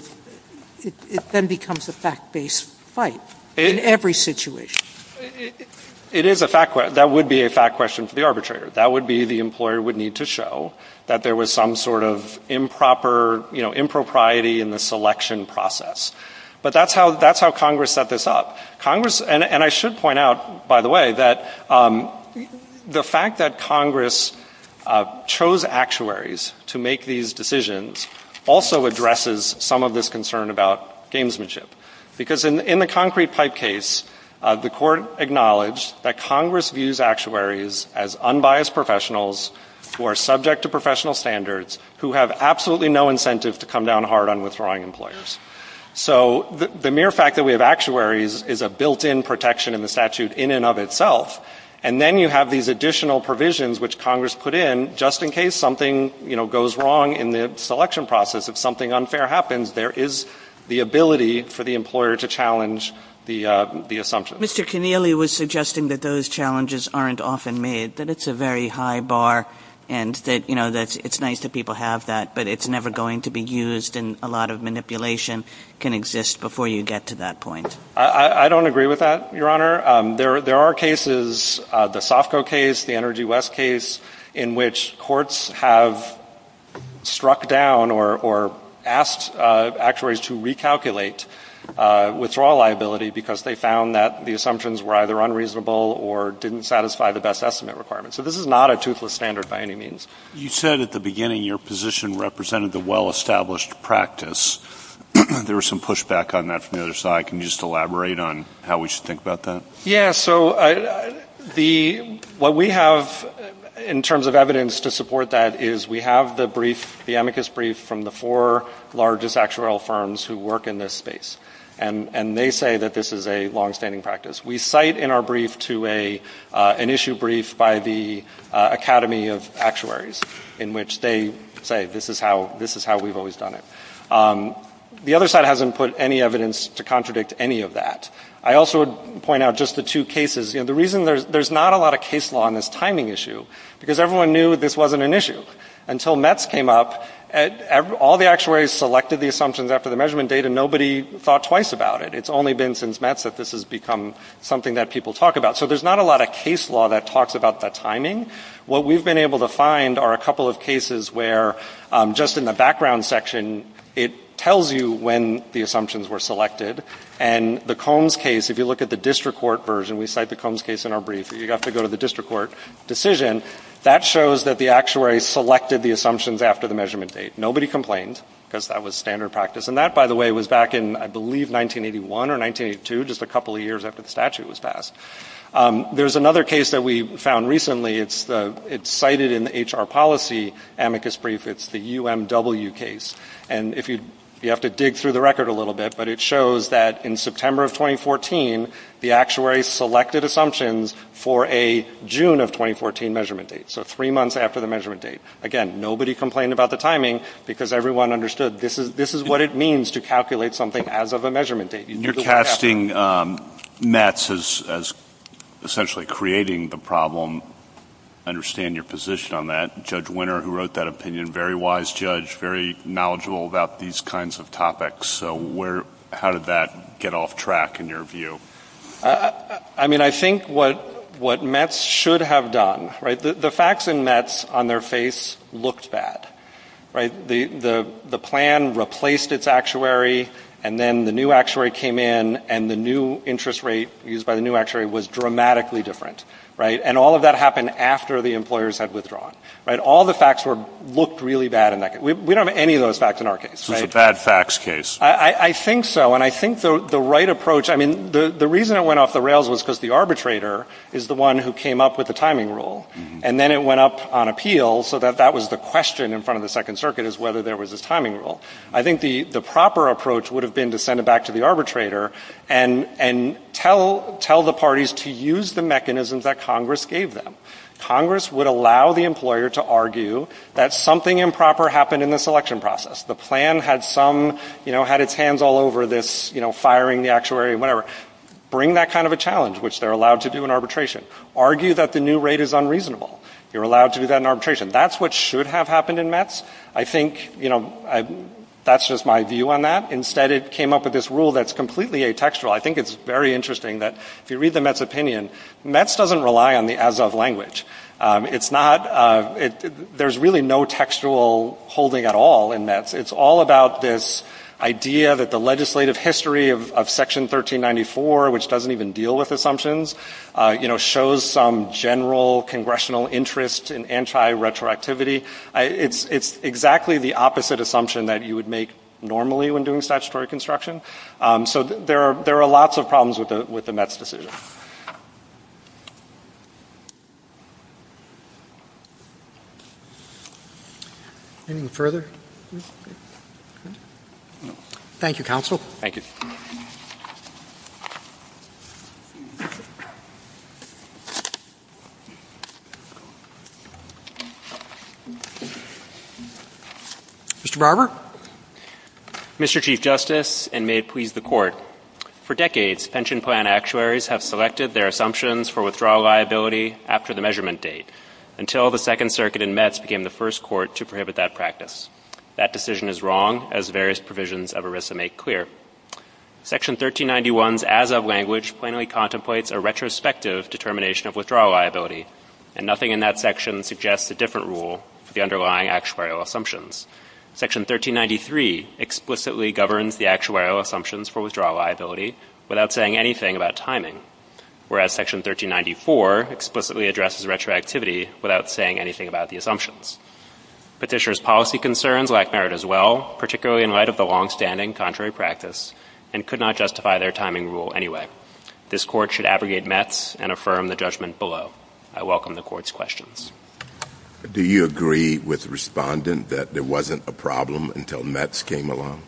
– it then becomes a fact-based fight in every situation. It is a fact – that would be a fact question for the arbitrator. That would be the employer would need to show that there was some sort of improper, you know, impropriety in the selection process. But that's how Congress set this up. Congress – and I should point out, by the way, that the fact that Congress chose actuaries to make these decisions also addresses some of this concern about gamesmanship. Because in the concrete pipe case, the court acknowledged that Congress views actuaries as unbiased professionals who are subject to professional standards, who have absolutely no incentive to come down hard on withdrawing employers. So the mere fact that we have actuaries is a built-in protection in the statute in and of itself. And then you have these additional provisions which Congress put in just in case something, you know, goes wrong in the selection process. If something unfair happens, there is the ability for the employer to challenge the assumptions. Mr. Keneally was suggesting that those challenges aren't often made, that it's a very high bar and that, you know, it's nice that people have that, but it's never going to be used and a lot of manipulation can exist before you get to that point. I don't agree with that, Your Honor. There are cases, the SOFCO case, the Energy West case, in which courts have struck down or asked actuaries to recalculate withdrawal liability because they found that the assumptions were either unreasonable or didn't satisfy the best estimate requirements. So this is not a toothless standard by any means. You said at the beginning your position represented the well-established practice. There was some pushback on that from the other side. Can you just elaborate on how we should think about that? So what we have in terms of evidence to support that is we have the brief, the amicus brief from the four largest actuarial firms who work in this space, and they say that this is a longstanding practice. We cite in our brief to an issue brief by the Academy of Actuaries in which they say this is how we've always done it. The other side hasn't put any evidence to contradict any of that. I also would point out just the two cases. The reason there's not a lot of case law on this timing issue because everyone knew this wasn't an issue until METS came up. All the actuaries selected the assumptions after the measurement data. Nobody thought twice about it. It's only been since METS that this has become something that people talk about. So there's not a lot of case law that talks about the timing. What we've been able to find are a couple of cases where just in the background section it tells you when the assumptions were selected. And the Combs case, if you look at the district court version, we cite the Combs case in our brief. You have to go to the district court decision. That shows that the actuary selected the assumptions after the measurement date. Nobody complained because that was standard practice. And that, by the way, was back in, I believe, 1981 or 1982, just a couple of years after the statute was passed. There's another case that we found recently. It's cited in the HR policy amicus brief. It's the UMW case. And you have to dig through the record a little bit, but it shows that in September of 2014 the actuary selected assumptions for a June of 2014 measurement date. So three months after the measurement date. Again, nobody complained about the timing because everyone understood this is what it means to calculate something as of a measurement date. You're casting METS as essentially creating the problem. I understand your position on that. Judge Winter, who wrote that opinion, very wise judge, very knowledgeable about these kinds of topics. So how did that get off track in your view? I mean, I think what METS should have done, right, the facts in METS on their face looked bad, right? The plan replaced its actuary, and then the new actuary came in, and the new interest rate used by the new actuary was dramatically different, right? And all of that happened after the employers had withdrawn, right? All the facts looked really bad in that case. We don't have any of those facts in our case, right? So it's a bad facts case. I think so, and I think the right approach, I mean, the reason it went off the rails was because the arbitrator is the one who came up with the timing rule, and then it went up on appeal, so that was the question in front of the Second Circuit, is whether there was this timing rule. I think the proper approach would have been to send it back to the arbitrator and tell the parties to use the mechanisms that Congress gave them. Congress would allow the employer to argue that something improper happened in the selection process. The plan had some, you know, had its hands all over this, you know, firing the actuary, whatever. Bring that kind of a challenge, which they're allowed to do in arbitration. Argue that the new rate is unreasonable. You're allowed to do that in arbitration. That's what should have happened in METS. I think, you know, that's just my view on that. Instead, it came up with this rule that's completely atextual. I think it's very interesting that if you read the METS opinion, METS doesn't rely on the as-of language. It's not, there's really no textual holding at all in METS. It's all about this idea that the legislative history of Section 1394, which doesn't even deal with assumptions, you know, shows some general congressional interest in anti-retroactivity. It's exactly the opposite assumption that you would make normally when doing statutory construction. So there are lots of problems with the METS decision. Anything further? No. Thank you, Counsel. Thank you. Mr. Barber. Mr. Chief Justice, and may it please the Court, for decades pension plan actuaries have selected their assumptions for withdrawal liability after the measurement date, until the Second Circuit in METS became the first court to prohibit that practice. That decision is wrong, as various provisions of ERISA make clear. Section 1391's as-of language plainly contemplates a retrospective determination of withdrawal liability, and nothing in that section suggests a different rule for the underlying actuarial assumptions. Section 1393 explicitly governs the actuarial assumptions for withdrawal liability without saying anything about timing, whereas Section 1394 explicitly addresses retroactivity without saying anything about the assumptions. Petitioner's policy concerns lack merit as well, particularly in light of the longstanding contrary practice, and could not justify their timing rule anyway. This Court should abrogate METS and affirm the judgment below. I welcome the Court's questions. Do you agree with Respondent that there wasn't a problem until METS came along?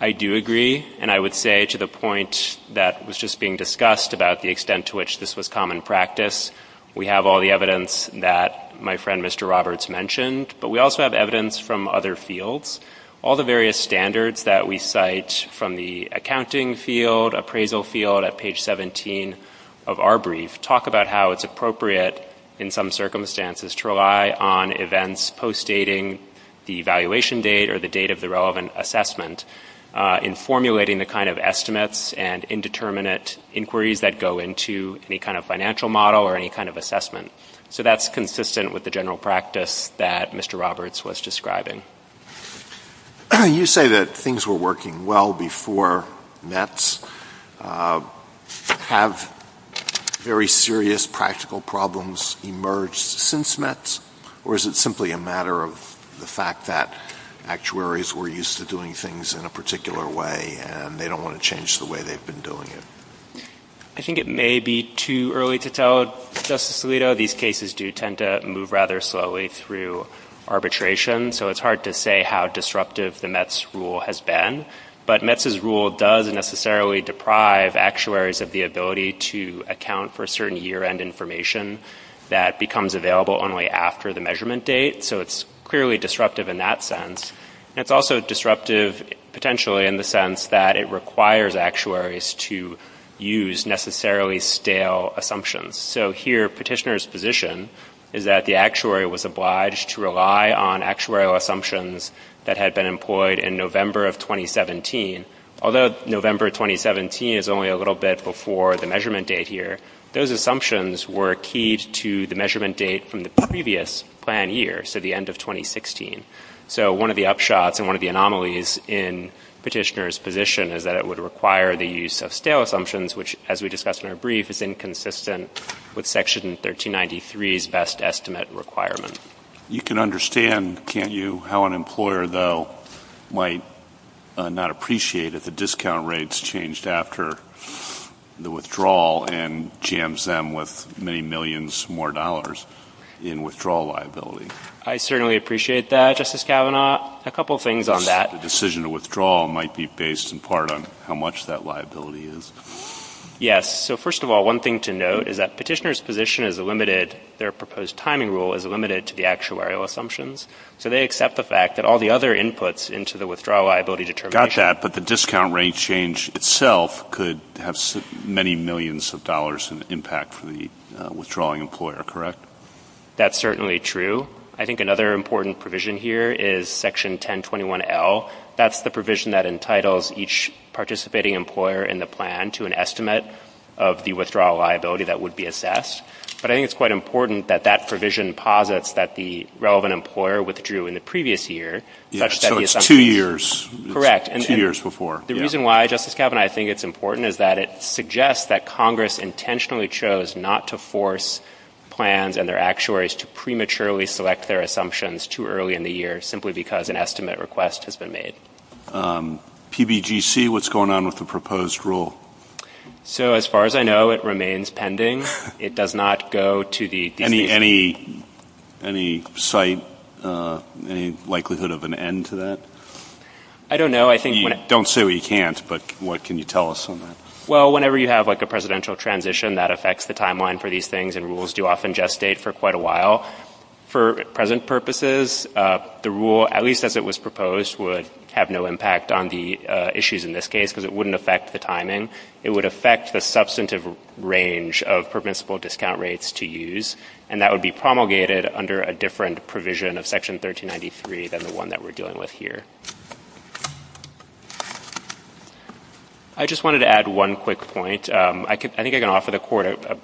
I do agree, and I would say to the point that was just being discussed about the extent to which this was common practice, we have all the evidence that my friend Mr. Roberts mentioned, but we also have evidence from other fields. All the various standards that we cite from the accounting field, appraisal field at page 17 of our brief, talk about how it's appropriate in some circumstances to rely on events post-dating the evaluation date or the date of the relevant assessment in formulating the kind of estimates and indeterminate inquiries that go into any kind of financial model or any kind of assessment. So that's consistent with the general practice that Mr. Roberts was You say that things were working well before METS. Have very serious practical problems emerged since METS, or is it simply a matter of the fact that actuaries were used to doing things in a particular way and they don't want to change the way they've been doing it? I think it may be too early to tell, Justice Alito. These cases do tend to move rather slowly through arbitration, so it's hard to say how disruptive the METS rule has been. But METS's rule does necessarily deprive actuaries of the ability to account for certain year-end information that becomes available only after the measurement date, so it's clearly disruptive in that sense. It's also disruptive potentially in the sense that it requires actuaries to use necessarily stale assumptions. So here petitioner's position is that the actuary was obliged to rely on actuarial assumptions that had been employed in November of 2017. Although November 2017 is only a little bit before the measurement date here, those assumptions were keyed to the measurement date from the previous plan year, so the end of 2016. So one of the upshots and one of the anomalies in petitioner's position is that it would require the use of stale assumptions, which, as we discussed in our brief, is inconsistent with Section 1393's best estimate requirement. You can understand, can't you, how an employer, though, might not appreciate if the discount rates changed after the withdrawal and jams them with many millions more dollars in withdrawal liability. I certainly appreciate that, Justice Kavanaugh. A couple things on that. The decision to withdraw might be based in part on how much that liability is. Yes. So first of all, one thing to note is that petitioner's position is limited, their proposed timing rule is limited to the actuarial assumptions. So they accept the fact that all the other inputs into the withdrawal liability determination. Got that. But the discount rate change itself could have many millions of dollars in impact for the withdrawing employer, correct? That's certainly true. I think another important provision here is Section 1021L. That's the provision that entitles each participating employer in the plan to an estimate of the withdrawal liability that would be assessed. But I think it's quite important that that provision posits that the relevant employer withdrew in the previous year. So it's two years. Correct. Two years before. The reason why, Justice Kavanaugh, I think it's important is that it suggests that Congress intentionally chose not to force plans and their actuaries to prematurely select their assumptions too early in the year simply because an estimate request has been made. PBGC, what's going on with the proposed rule? So as far as I know, it remains pending. It does not go to the decision. Any sight, any likelihood of an end to that? I don't know. Don't say what you can't, but what can you tell us on that? Well, whenever you have like a presidential transition, that affects the timeline for these things and rules do often gestate for quite a while. For present purposes, the rule, at least as it was proposed, would have no impact on the issues in this case because it wouldn't affect the timing. It would affect the substantive range of permissible discount rates to use, and that would be promulgated under a different provision of Section 1393 than the one that we're dealing with here. I just wanted to add one quick point. I think I can offer the Court a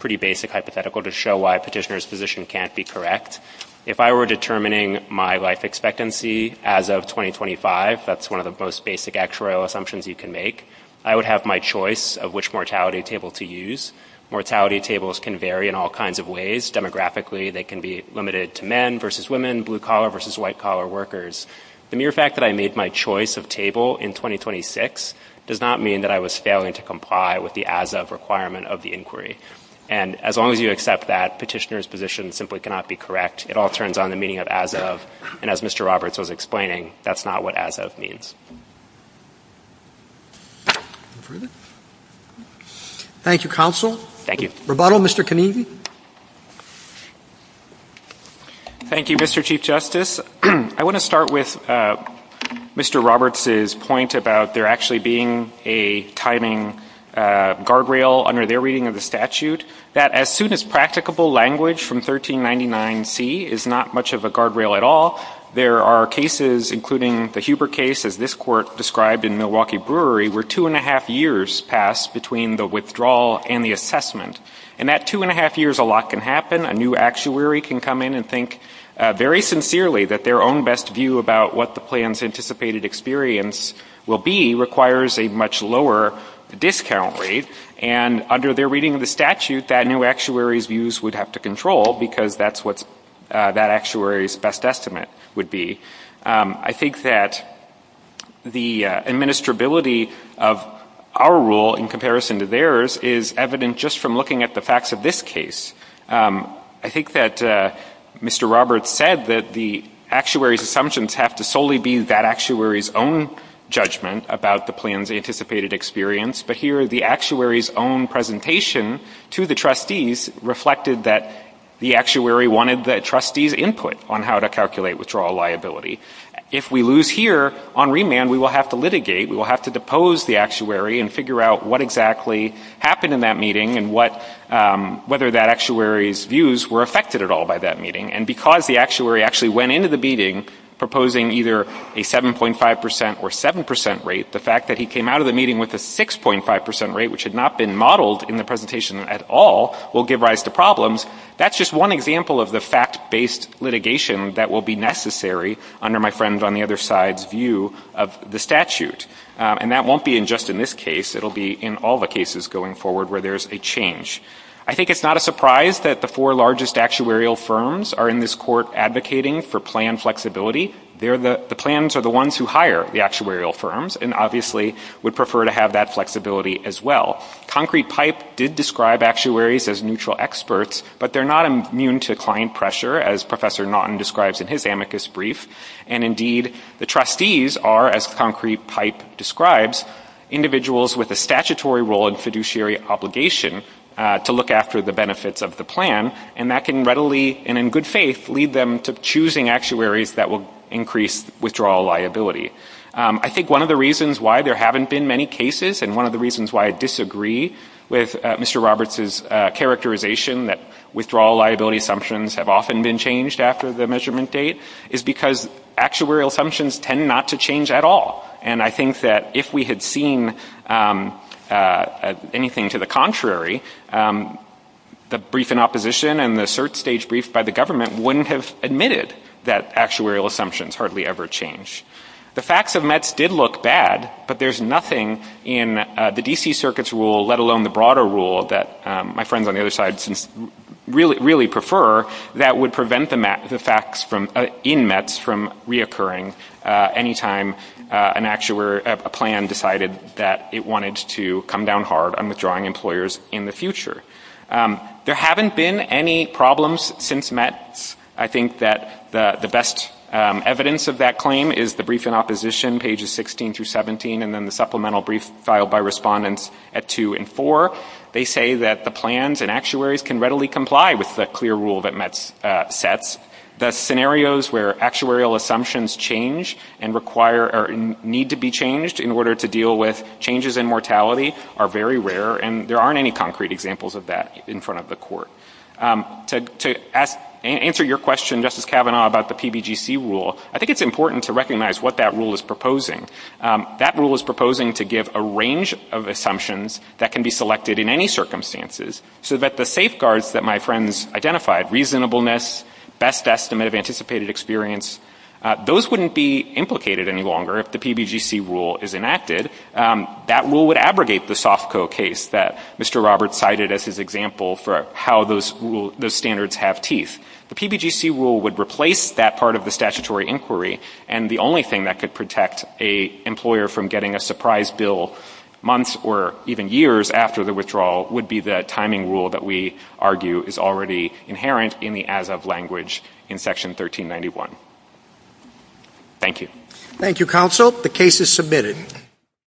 pretty basic hypothetical to show why petitioner's position can't be correct. If I were determining my life expectancy as of 2025, that's one of the most basic actuarial assumptions you can make. I would have my choice of which mortality table to use. Mortality tables can vary in all kinds of ways. Demographically, they can be limited to men versus women, blue-collar versus white-collar workers. The mere fact that I made my choice of table in 2026 does not mean that I was failing to comply with the as-of requirement of the inquiry. And as long as you accept that, petitioner's position simply cannot be correct. It all turns on the meaning of as-of, and as Mr. Roberts was explaining, that's not what as-of means. Thank you, Counsel. Thank you. Rebuttal, Mr. Konevy. Thank you, Mr. Chief Justice. I want to start with Mr. Roberts' point about there actually being a timing guardrail under their reading of the statute. That as soon as practicable language from 1399C is not much of a guardrail at all, there are cases, including the Huber case, as this court described, in Milwaukee Brewery, where two and a half years passed between the withdrawal and the assessment. And that two and a half years, a lot can happen. A new actuary can come in and think very sincerely that their own best view about what the plan's anticipated experience will be requires a much lower discount rate. And under their reading of the statute, that new actuary's views would have to control, because that's what that actuary's best estimate would be. I think that the administrability of our rule in comparison to theirs is evident just from looking at the facts of this case. I think that Mr. Roberts said that the actuary's assumptions have to solely be that actuary's own judgment about the plan's anticipated experience. But here, the actuary's own presentation to the trustees reflected that the actuary wanted the trustees' input on how to calculate withdrawal liability. If we lose here on remand, we will have to litigate. We will have to depose the actuary and figure out what exactly happened in that meeting and whether that actuary's views were affected at all by that meeting. And because the actuary actually went into the meeting proposing either a 7.5 percent rate, which had not been modeled in the presentation at all, will give rise to problems, that's just one example of the fact-based litigation that will be necessary under my friend on the other side's view of the statute. And that won't be just in this case. It will be in all the cases going forward where there's a change. I think it's not a surprise that the four largest actuarial firms are in this court advocating for plan flexibility. The plans are the ones who hire the actuarial firms and obviously would prefer to have that flexibility as well. Concrete Pipe did describe actuaries as neutral experts, but they're not immune to client pressure, as Professor Naughton describes in his amicus brief. And indeed, the trustees are, as Concrete Pipe describes, individuals with a statutory role and fiduciary obligation to look after the benefits of the plan. And that can readily, and in good faith, lead them to choosing actuaries that will increase withdrawal liability. I think one of the reasons why there haven't been many cases and one of the reasons why I disagree with Mr. Roberts' characterization that withdrawal liability assumptions have often been changed after the measurement date is because actuarial assumptions tend not to change at all. And I think that if we had seen anything to the contrary, the brief in opposition and the cert stage brief by the government wouldn't have admitted that actuarial assumptions hardly ever change. The facts of METS did look bad, but there's nothing in the D.C. Circuit's rule, let alone the broader rule that my friends on the other side really prefer, that would prevent the facts in METS from reoccurring anytime a plan decided that it wanted to come down hard on withdrawing employers in the future. There haven't been any problems since METS. I think that the best evidence of that claim is the brief in opposition, pages 16 through 17, and then the supplemental brief filed by respondents at two and four. They say that the plans and actuaries can readily comply with the clear rule that METS sets. The scenarios where actuarial assumptions change and require or need to be changed in order to deal with changes in mortality are very rare, and there aren't any concrete examples of that in front of the court. To answer your question, Justice Kavanaugh, about the PBGC rule, I think it's important to recognize what that rule is proposing. That rule is proposing to give a range of assumptions that can be selected in any circumstances so that the safeguards that my friends identified, reasonableness, best estimate of anticipated experience, those wouldn't be implicated any longer if the PBGC rule is enacted. That rule would abrogate the SOFCO case that Mr. Roberts cited as his example for how those standards have teeth. The PBGC rule would replace that part of the statutory inquiry, and the only thing that could protect an employer from getting a surprise bill months or even years after the withdrawal would be the timing rule that we argue is already inherent in the as-of language in Section 1391. Thank you. Thank you, counsel. The case is submitted.